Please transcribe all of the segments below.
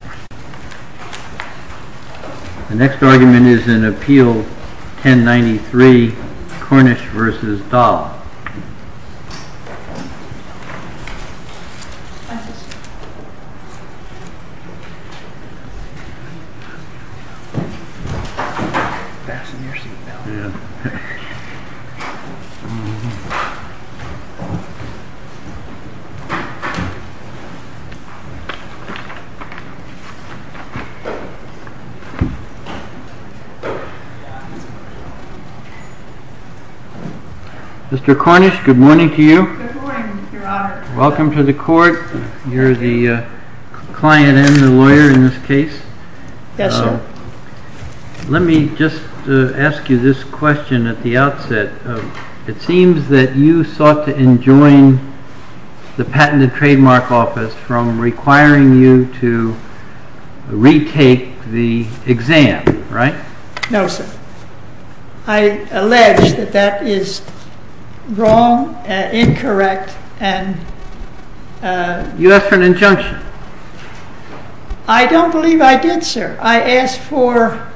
The next argument is in Appeal 1093 Cornish v. Doll. Mr. Cornish, good morning to you. Good morning, Mr. Roberts. Welcome to the court. You're the client and the lawyer in this case. Yes, sir. Let me just ask you this question at the outset. It seems that you sought to enjoin the Patent and Trademark Office from requiring you to retake the exam, right? No, sir. I allege that that is wrong and incorrect. I don't believe I did, sir. I asked for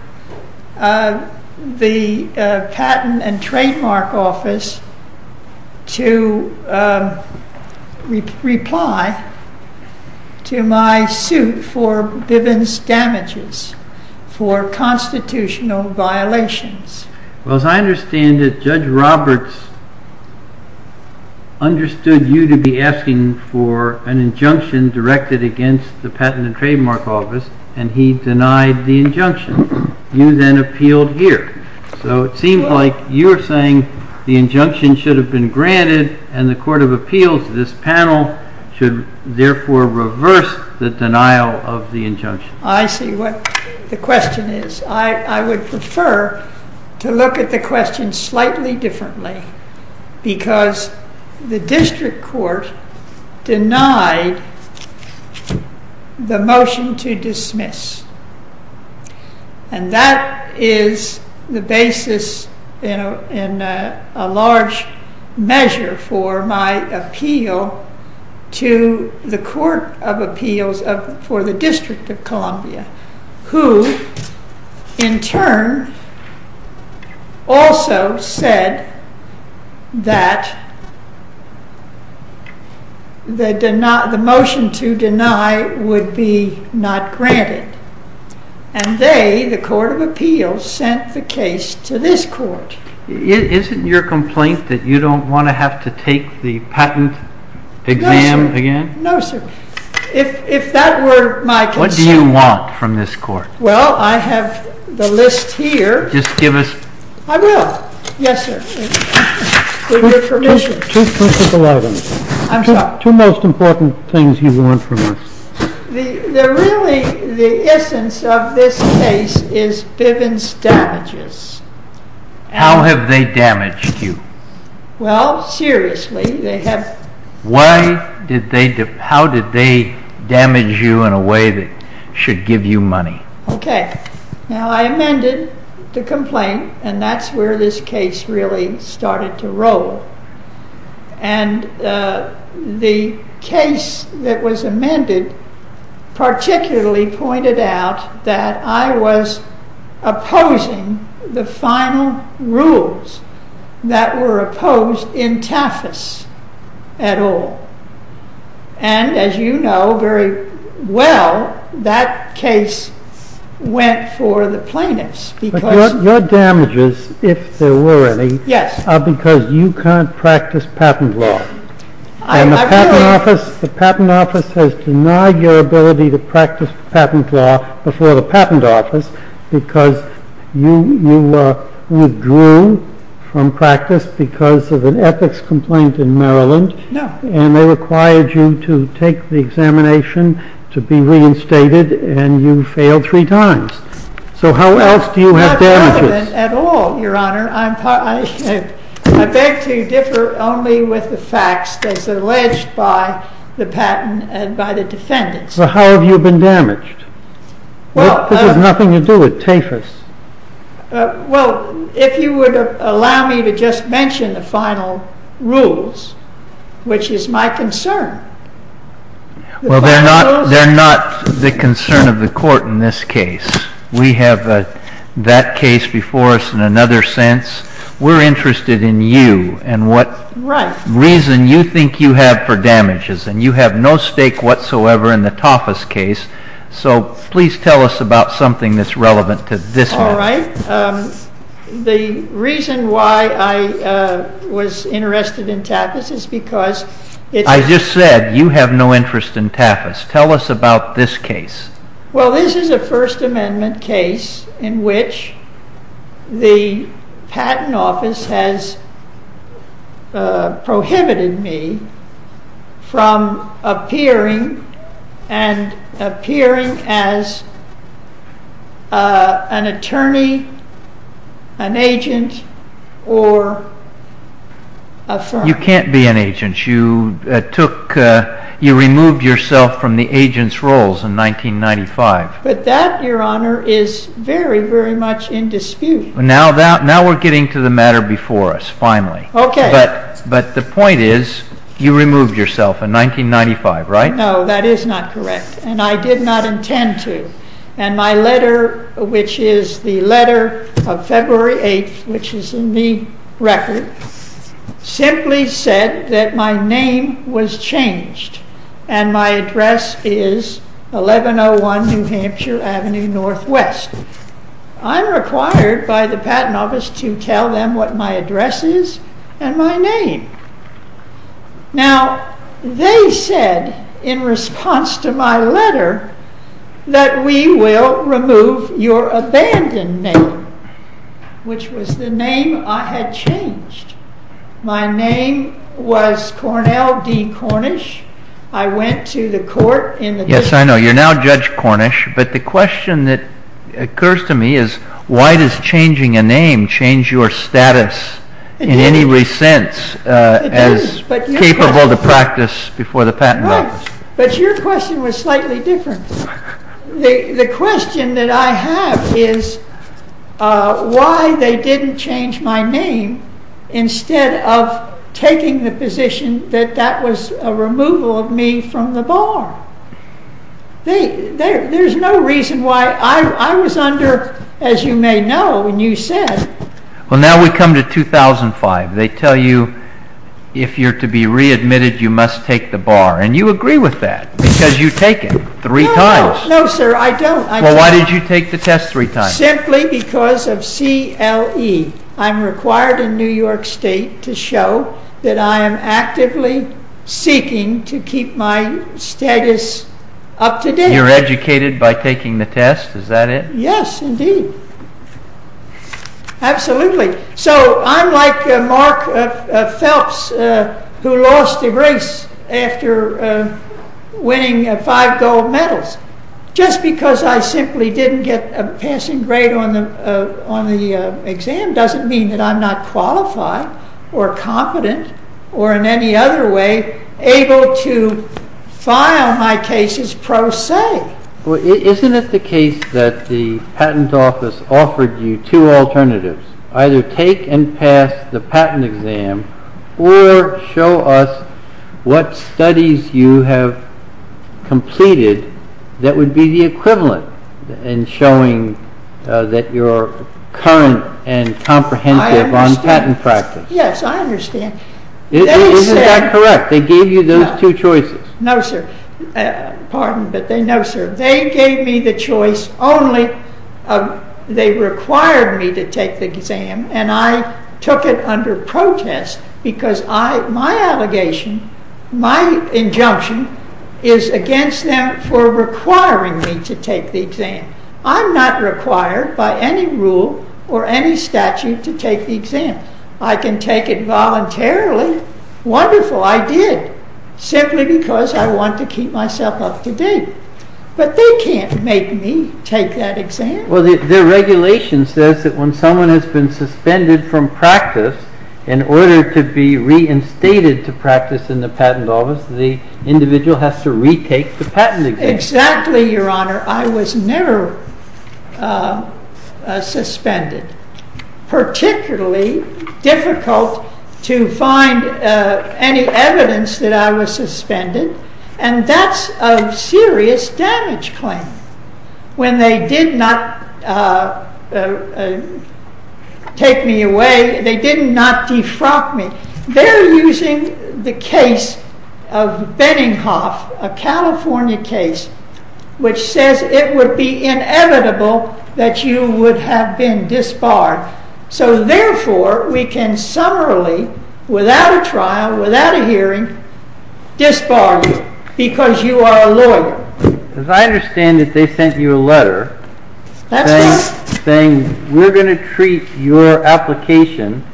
the Patent and Trademark Office to reply to my suit for Bivens damages for constitutional violations. Well, as I understand it, Judge Roberts understood you to be asking for an injunction directed against the Patent and Trademark Office, and he denied the injunction. You then appealed here. So it seems like you're saying the injunction should have been granted and the Court of Appeals, this panel, should therefore reverse the denial of the injunction. I see what the question is. I would prefer to look at the question slightly differently, because the District Court denied the motion to dismiss. And that is the basis in a large measure for my appeal to the Court of Appeals for the District of Columbia, who in turn also said that the motion to deny would be not granted. And they, the Court of Appeals, sent the case to this Court. Isn't your complaint that you don't want to have to take the patent exam again? No, sir. If that were my concern... What do you want from this Court? Well, I have the list here. Just give us... I will. Yes, sir. With your permission. Two principal items. I'm sorry. Two most important things you want from us. Really, the essence of this case is Bivens damages. How have they damaged you? Well, seriously, they have... How did they damage you in a way that should give you money? Okay. Now, I amended the complaint, and that's where this case really started to roll. And the case that was amended particularly pointed out that I was opposing the final rules that were opposed in Tafas et al. And, as you know very well, that case went for the plaintiffs. But your damages, if there were any, are because you can't practice patent law. And the patent office has denied your ability to practice patent law before the patent office because you withdrew from practice because of an ethics complaint in Maryland. No. And they required you to take the examination, to be reinstated, and you failed three times. So how else do you have damages? Not relevant at all, Your Honor. I beg to differ only with the facts that's alleged by the patent and by the defendants. So how have you been damaged? This has nothing to do with Tafas. Well, if you would allow me to just mention the final rules, which is my concern. Well, they're not the concern of the court in this case. We have that case before us in another sense. We're interested in you and what reason you think you have for damages. And you have no stake whatsoever in the Tafas case. So please tell us about something that's relevant to this matter. All right. The reason why I was interested in Tafas is because it's... I just said you have no interest in Tafas. Tell us about this case. Well, this is a First Amendment case in which the patent office has prohibited me from appearing and appearing as an attorney, an agent, or a firm. You can't be an agent. You removed yourself from the agent's roles in 1995. But that, Your Honor, is very, very much in dispute. Now we're getting to the matter before us, finally. Okay. But the point is you removed yourself in 1995, right? No, that is not correct. And I did not intend to. And my letter, which is the letter of February 8th, which is in the record, simply said that my name was changed. And my address is 1101 New Hampshire Avenue Northwest. I'm required by the patent office to tell them what my address is and my name. Now, they said in response to my letter that we will remove your abandoned name, which was the name I had changed. My name was Cornell D. Cornish. I went to the court in the... Yes, I know. You're now Judge Cornish. But the question that occurs to me is why does changing a name change your status in any way sense as capable to practice before the patent office? Right. But your question was slightly different. The question that I have is why they didn't change my name instead of taking the position that that was a removal of me from the bar. There's no reason why... I was under, as you may know, and you said... Well, now we come to 2005. They tell you if you're to be readmitted, you must take the bar. And you agree with that because you take it three times. No, sir, I don't. Well, why did you take the test three times? Simply because of CLE. I'm required in New York State to show that I am actively seeking to keep my status up to date. You're educated by taking the test. Is that it? Yes, indeed. Absolutely. So I'm like Mark Phelps who lost the race after winning five gold medals. Just because I simply didn't get a passing grade on the exam doesn't mean that I'm not qualified or competent or in any other way able to file my cases pro se. Well, isn't it the case that the patent office offered you two alternatives? Either take and pass the patent exam or show us what studies you have completed that would be the equivalent in showing that you're current and comprehensive on patent practice. Yes, I understand. Is that correct? They gave you those two choices? No, sir. They gave me the choice only. They required me to take the exam and I took it under protest because my allegation, my injunction is against them for requiring me to take the exam. I'm not required by any rule or any statute to take the exam. I can take it voluntarily. Wonderful, I did, simply because I want to keep myself up to date. But they can't make me take that exam. Well, the regulation says that when someone has been suspended from practice, in order to be reinstated to practice in the patent office, the individual has to retake the patent exam. Exactly, Your Honor. I was never suspended. Particularly difficult to find any evidence that I was suspended. And that's a serious damage claim. When they did not take me away, they did not defrock me. They're using the case of Benninghoff, a California case, which says it would be inevitable that you would have been disbarred. So therefore, we can summarily, without a trial, without a hearing, disbar you because you are a lawyer. As I understand it, they sent you a letter saying, we're going to treat your application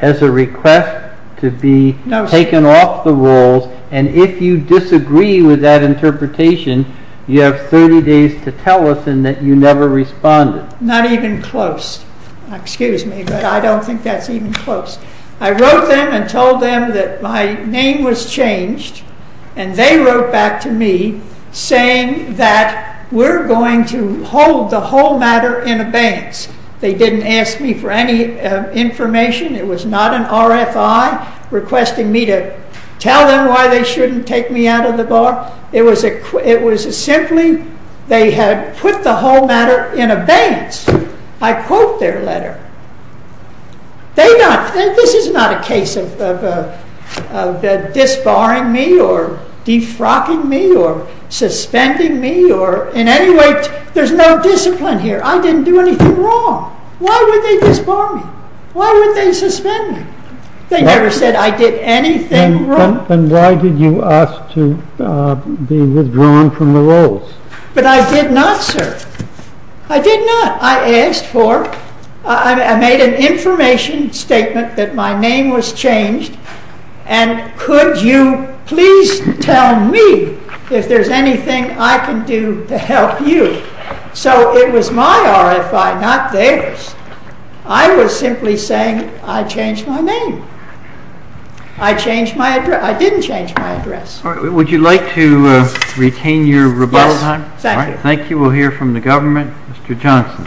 as a request to be taken off the rules. And if you disagree with that interpretation, you have 30 days to tell us and that you never responded. Not even close. Excuse me, but I don't think that's even close. I wrote them and told them that my name was changed and they wrote back to me saying that we're going to hold the whole matter in abeyance. They didn't ask me for any information. It was not an RFI requesting me to tell them why they shouldn't take me out of the bar. It was simply they had put the whole matter in abeyance. I quote their letter. This is not a case of disbarring me or defrocking me or suspending me or in any way, there's no discipline here. I didn't do anything wrong. Why would they disbar me? Why would they suspend me? They never said I did anything wrong. And why did you ask to be withdrawn from the rules? But I did not, sir. I did not. I asked for, I made an information statement that my name was changed. And could you please tell me if there's anything I can do to help you? So it was my RFI, not theirs. I was simply saying I changed my name. I changed my address. I didn't change my address. All right. Would you like to retain your rebuttal time? Yes. Thank you. Thank you. We'll hear from the government. Mr. Johnson.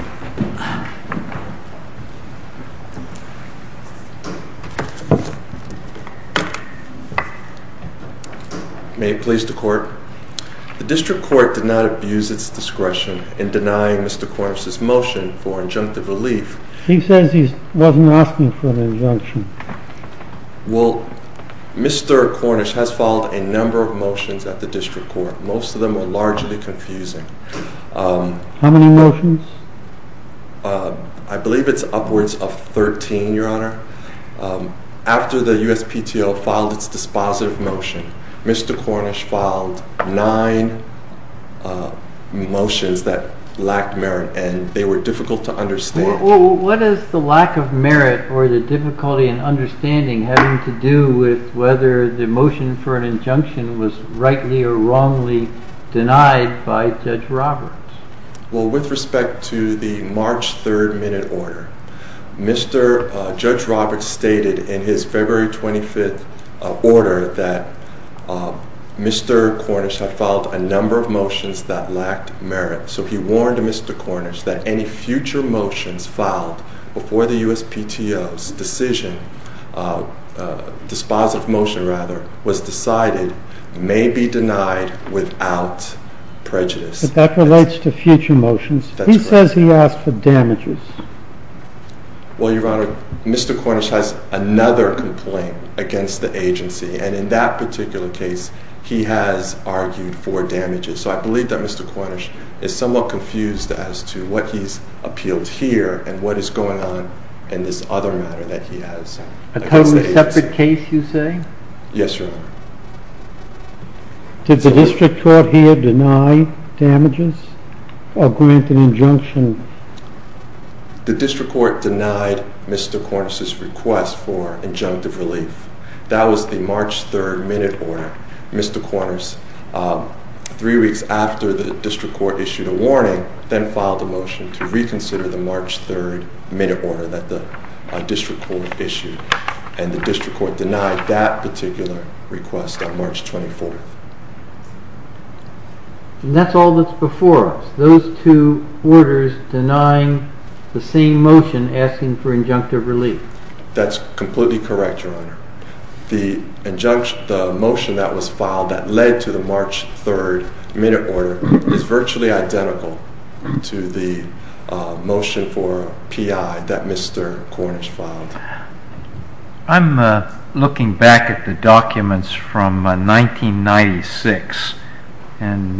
May it please the Court. The District Court did not abuse its discretion in denying Mr. Cornish's motion for injunctive relief. He says he wasn't asking for an injunction. Well, Mr. Cornish has filed a number of motions at the District Court. Most of them are largely confusing. How many motions? I believe it's upwards of 13, Your Honor. After the USPTO filed its dispositive motion, Mr. Cornish filed nine motions that lacked merit, and they were difficult to understand. What is the lack of merit or the difficulty in understanding having to do with whether the motion for an injunction was rightly or wrongly denied by Judge Roberts? Well, with respect to the March 3rd minute order, Judge Roberts stated in his February 25th order that Mr. Cornish had filed a number of motions that lacked merit. So he warned Mr. Cornish that any future motions filed before the USPTO's dispositive motion was decided may be denied without prejudice. But that relates to future motions. He says he asked for damages. Well, Your Honor, Mr. Cornish has another complaint against the agency, and in that particular case, he has argued for damages. So I believe that Mr. Cornish is somewhat confused as to what he's appealed here and what is going on in this other matter that he has. A totally separate case, you say? Yes, Your Honor. Did the District Court here deny damages or grant an injunction? The District Court denied Mr. Cornish's request for injunctive relief. That was the March 3rd minute order. Mr. Cornish, three weeks after the District Court issued a warning, then filed a motion to reconsider the March 3rd minute order that the District Court issued. And the District Court denied that particular request on March 24th. And that's all that's before us? Those two orders denying the same motion asking for injunctive relief? That's completely correct, Your Honor. The motion that was filed that led to the March 3rd minute order is virtually identical to the motion for PI that Mr. Cornish filed. I'm looking back at the documents from 1996, and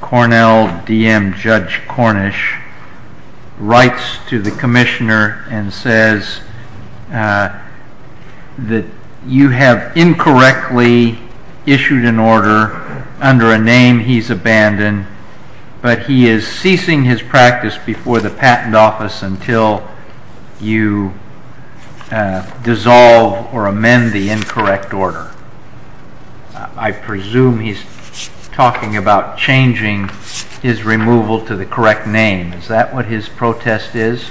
Cornell DM Judge Cornish writes to the Commissioner and says that you have incorrectly issued an order under a name he's abandoned, but he is ceasing his practice before the Patent Office until you dissolve or amend the incorrect order. I presume he's talking about changing his removal to the correct name. Is that what his protest is?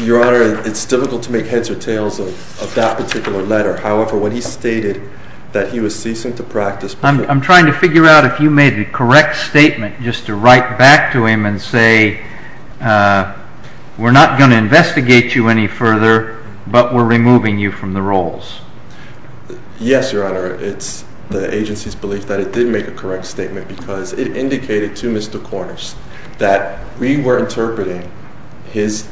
Your Honor, it's difficult to make heads or tails of that particular letter. However, when he stated that he was ceasing to practice… I'm trying to figure out if you made a correct statement just to write back to him and say we're not going to investigate you any further, but we're removing you from the roles. Yes, Your Honor. It's the agency's belief that it did make a correct statement because it indicated to Mr. Cornish that we were interpreting his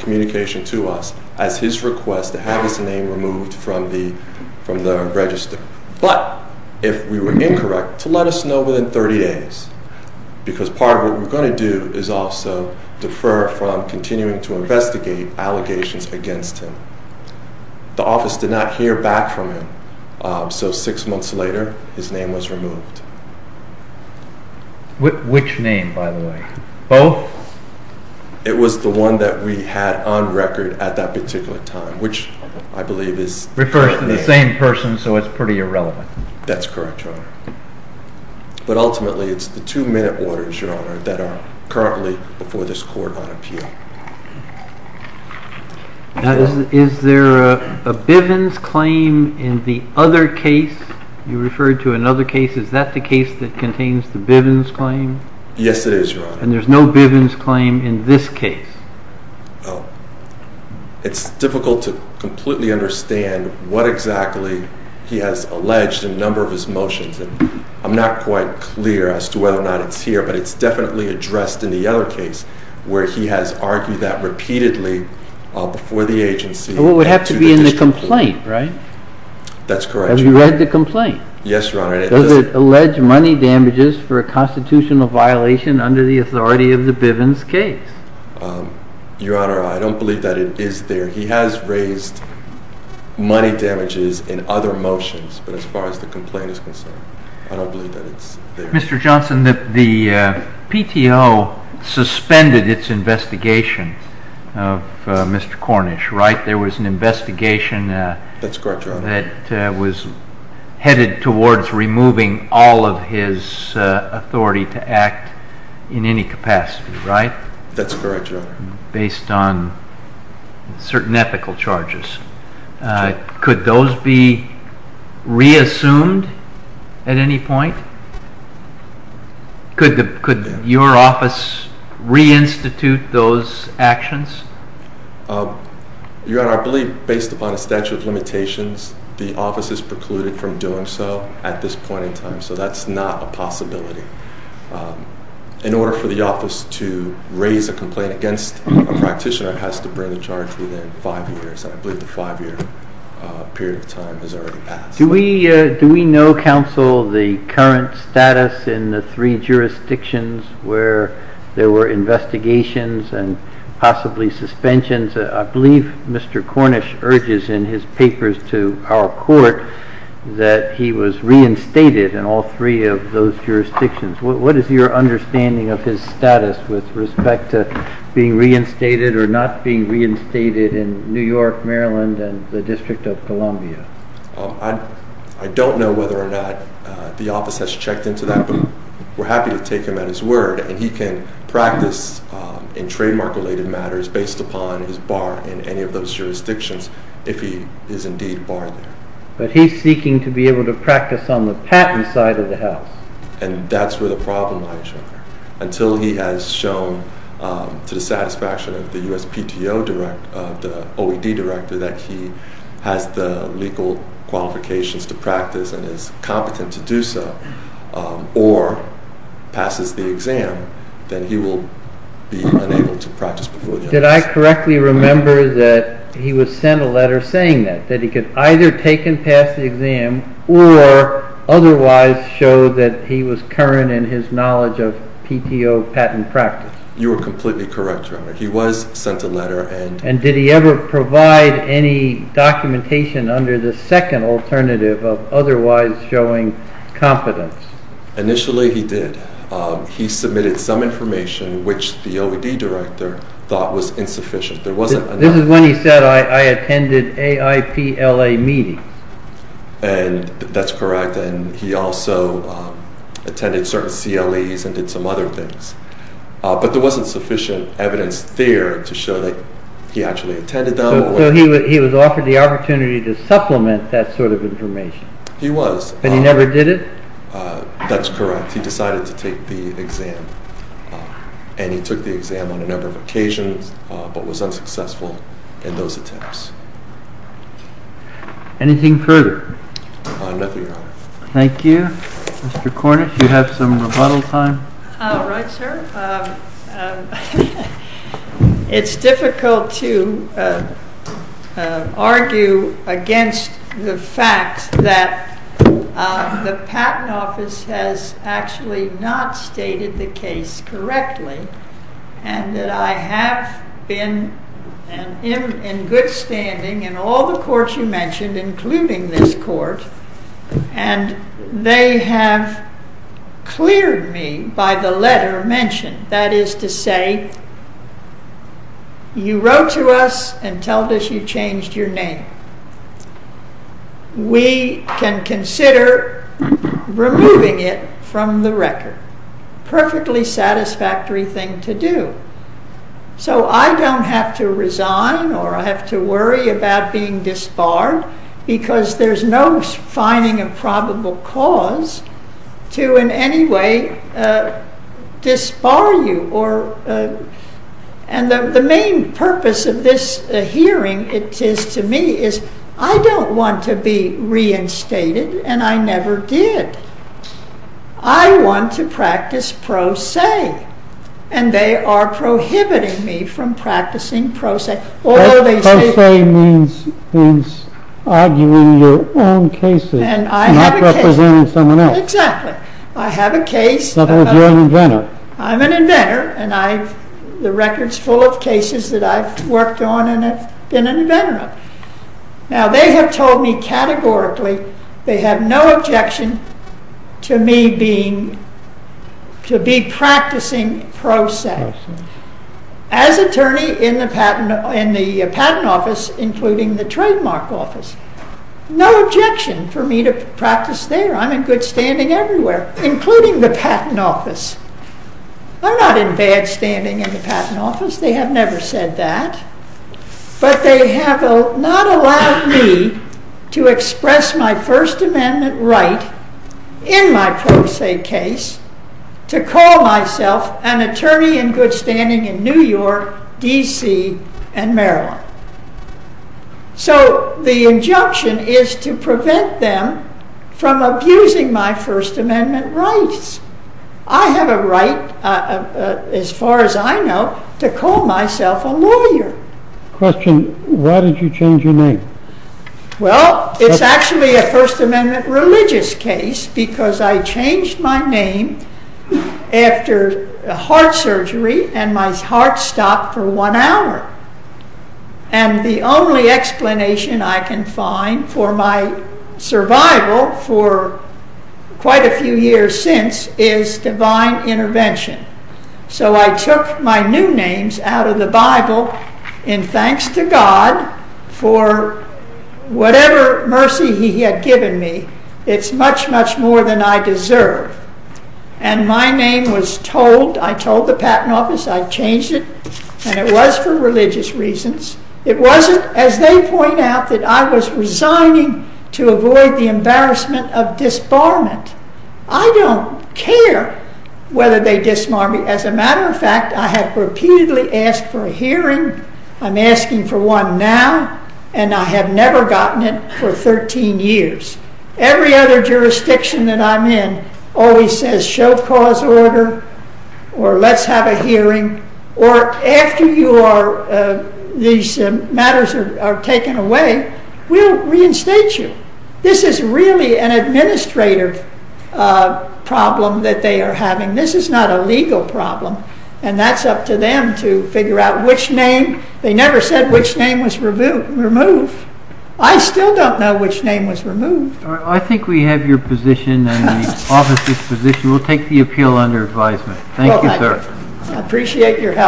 communication to us as his request to have his name removed from the register. But, if we were incorrect, to let us know within 30 days, because part of what we're going to do is also defer from continuing to investigate allegations against him. The office did not hear back from him, so six months later, his name was removed. Which name, by the way? Both? It was the one that we had on record at that particular time, which I believe is… That's correct, Your Honor. But ultimately, it's the two minute orders, Your Honor, that are currently before this court on appeal. Now, is there a Bivens claim in the other case you referred to? In other cases, is that the case that contains the Bivens claim? Yes, it is, Your Honor. And there's no Bivens claim in this case? It's difficult to completely understand what exactly he has alleged in a number of his motions. I'm not quite clear as to whether or not it's here, but it's definitely addressed in the other case where he has argued that repeatedly before the agency. It would have to be in the complaint, right? That's correct, Your Honor. Have you read the complaint? Yes, Your Honor. Does it allege money damages for a constitutional violation under the authority of the Bivens case? Your Honor, I don't believe that it is there. He has raised money damages in other motions, but as far as the complaint is concerned, I don't believe that it's there. Mr. Johnson, the PTO suspended its investigation of Mr. Cornish, right? There was an investigation… That's correct, Your Honor. …that was headed towards removing all of his authority to act in any capacity, right? That's correct, Your Honor. Based on certain ethical charges. Could those be reassumed at any point? Could your office reinstitute those actions? Your Honor, I believe based upon a statute of limitations, the office is precluded from doing so at this point in time, so that's not a possibility. In order for the office to raise a complaint against a practitioner, it has to bring the charge within five years, and I believe the five-year period of time has already passed. Do we know, counsel, the current status in the three jurisdictions where there were investigations and possibly suspensions? I believe Mr. Cornish urges in his papers to our court that he was reinstated in all three of those jurisdictions. What is your understanding of his status with respect to being reinstated or not being reinstated in New York, Maryland, and the District of Columbia? I don't know whether or not the office has checked into that, but we're happy to take him at his word, and he can practice in trademark-related matters based upon his bar in any of those jurisdictions, if he is indeed barred there. But he's seeking to be able to practice on the patent side of the house. And that's where the problem lies, until he has shown to the satisfaction of the OED director that he has the legal qualifications to practice and is competent to do so, or passes the exam, then he will be unable to practice before the office. Did I correctly remember that he was sent a letter saying that, that he could either take and pass the exam or otherwise show that he was current in his knowledge of PTO patent practice? You are completely correct, Your Honor. He was sent a letter. And did he ever provide any documentation under the second alternative of otherwise showing competence? Initially he did. He submitted some information which the OED director thought was insufficient. This is when he said, I attended AIPLA meetings. And that's correct, and he also attended certain CLEs and did some other things. But there wasn't sufficient evidence there to show that he actually attended them. So he was offered the opportunity to supplement that sort of information. He was. But he never did it? That's correct. He decided to take the exam. And he took the exam on a number of occasions, but was unsuccessful in those attempts. Anything further? Nothing, Your Honor. Thank you. Mr. Cornish, you have some rebuttal time? All right, sir. It's difficult to argue against the fact that the Patent Office has actually not stated the case correctly. And that I have been in good standing in all the courts you mentioned, including this court, and they have cleared me by the letter mentioned. That is to say, you wrote to us and told us you changed your name. We can consider removing it from the record. Perfectly satisfactory thing to do. So I don't have to resign or I have to worry about being disbarred because there's no finding a probable cause to in any way disbar you. And the main purpose of this hearing, it is to me, is I don't want to be reinstated, and I never did. I want to practice pro se, and they are prohibiting me from practicing pro se. Pro se means arguing your own cases, not representing someone else. Exactly. I have a case. I'm an inventor, and the record's full of cases that I've worked on and have been an inventor of. Now, they have told me categorically they have no objection to me being, to be practicing pro se. As attorney in the Patent Office, including the Trademark Office, no objection for me to practice there. I'm in good standing everywhere, including the Patent Office. I'm not in bad standing in the Patent Office. They have never said that. But they have not allowed me to express my First Amendment right in my pro se case to call myself an attorney in good standing in New York, D.C., and Maryland. So the injunction is to prevent them from abusing my First Amendment rights. I have a right, as far as I know, to call myself a lawyer. Question, why did you change your name? Well, it's actually a First Amendment religious case, because I changed my name after heart surgery, and my heart stopped for one hour. And the only explanation I can find for my survival for quite a few years since is divine intervention. So I took my new names out of the Bible in thanks to God for whatever mercy he had given me. It's much, much more than I deserve. And my name was told, I told the Patent Office I changed it, and it was for religious reasons. It wasn't, as they point out, that I was resigning to avoid the embarrassment of disbarment. I don't care whether they disbar me. As a matter of fact, I have repeatedly asked for a hearing. I'm asking for one now, and I have never gotten it for 13 years. Every other jurisdiction that I'm in always says, show cause order, or let's have a hearing. Or after these matters are taken away, we'll reinstate you. This is really an administrative problem that they are having. This is not a legal problem, and that's up to them to figure out which name. They never said which name was removed. I still don't know which name was removed. I think we have your position and the Office's position. We'll take the appeal under advisement. Thank you, sir. I appreciate your help.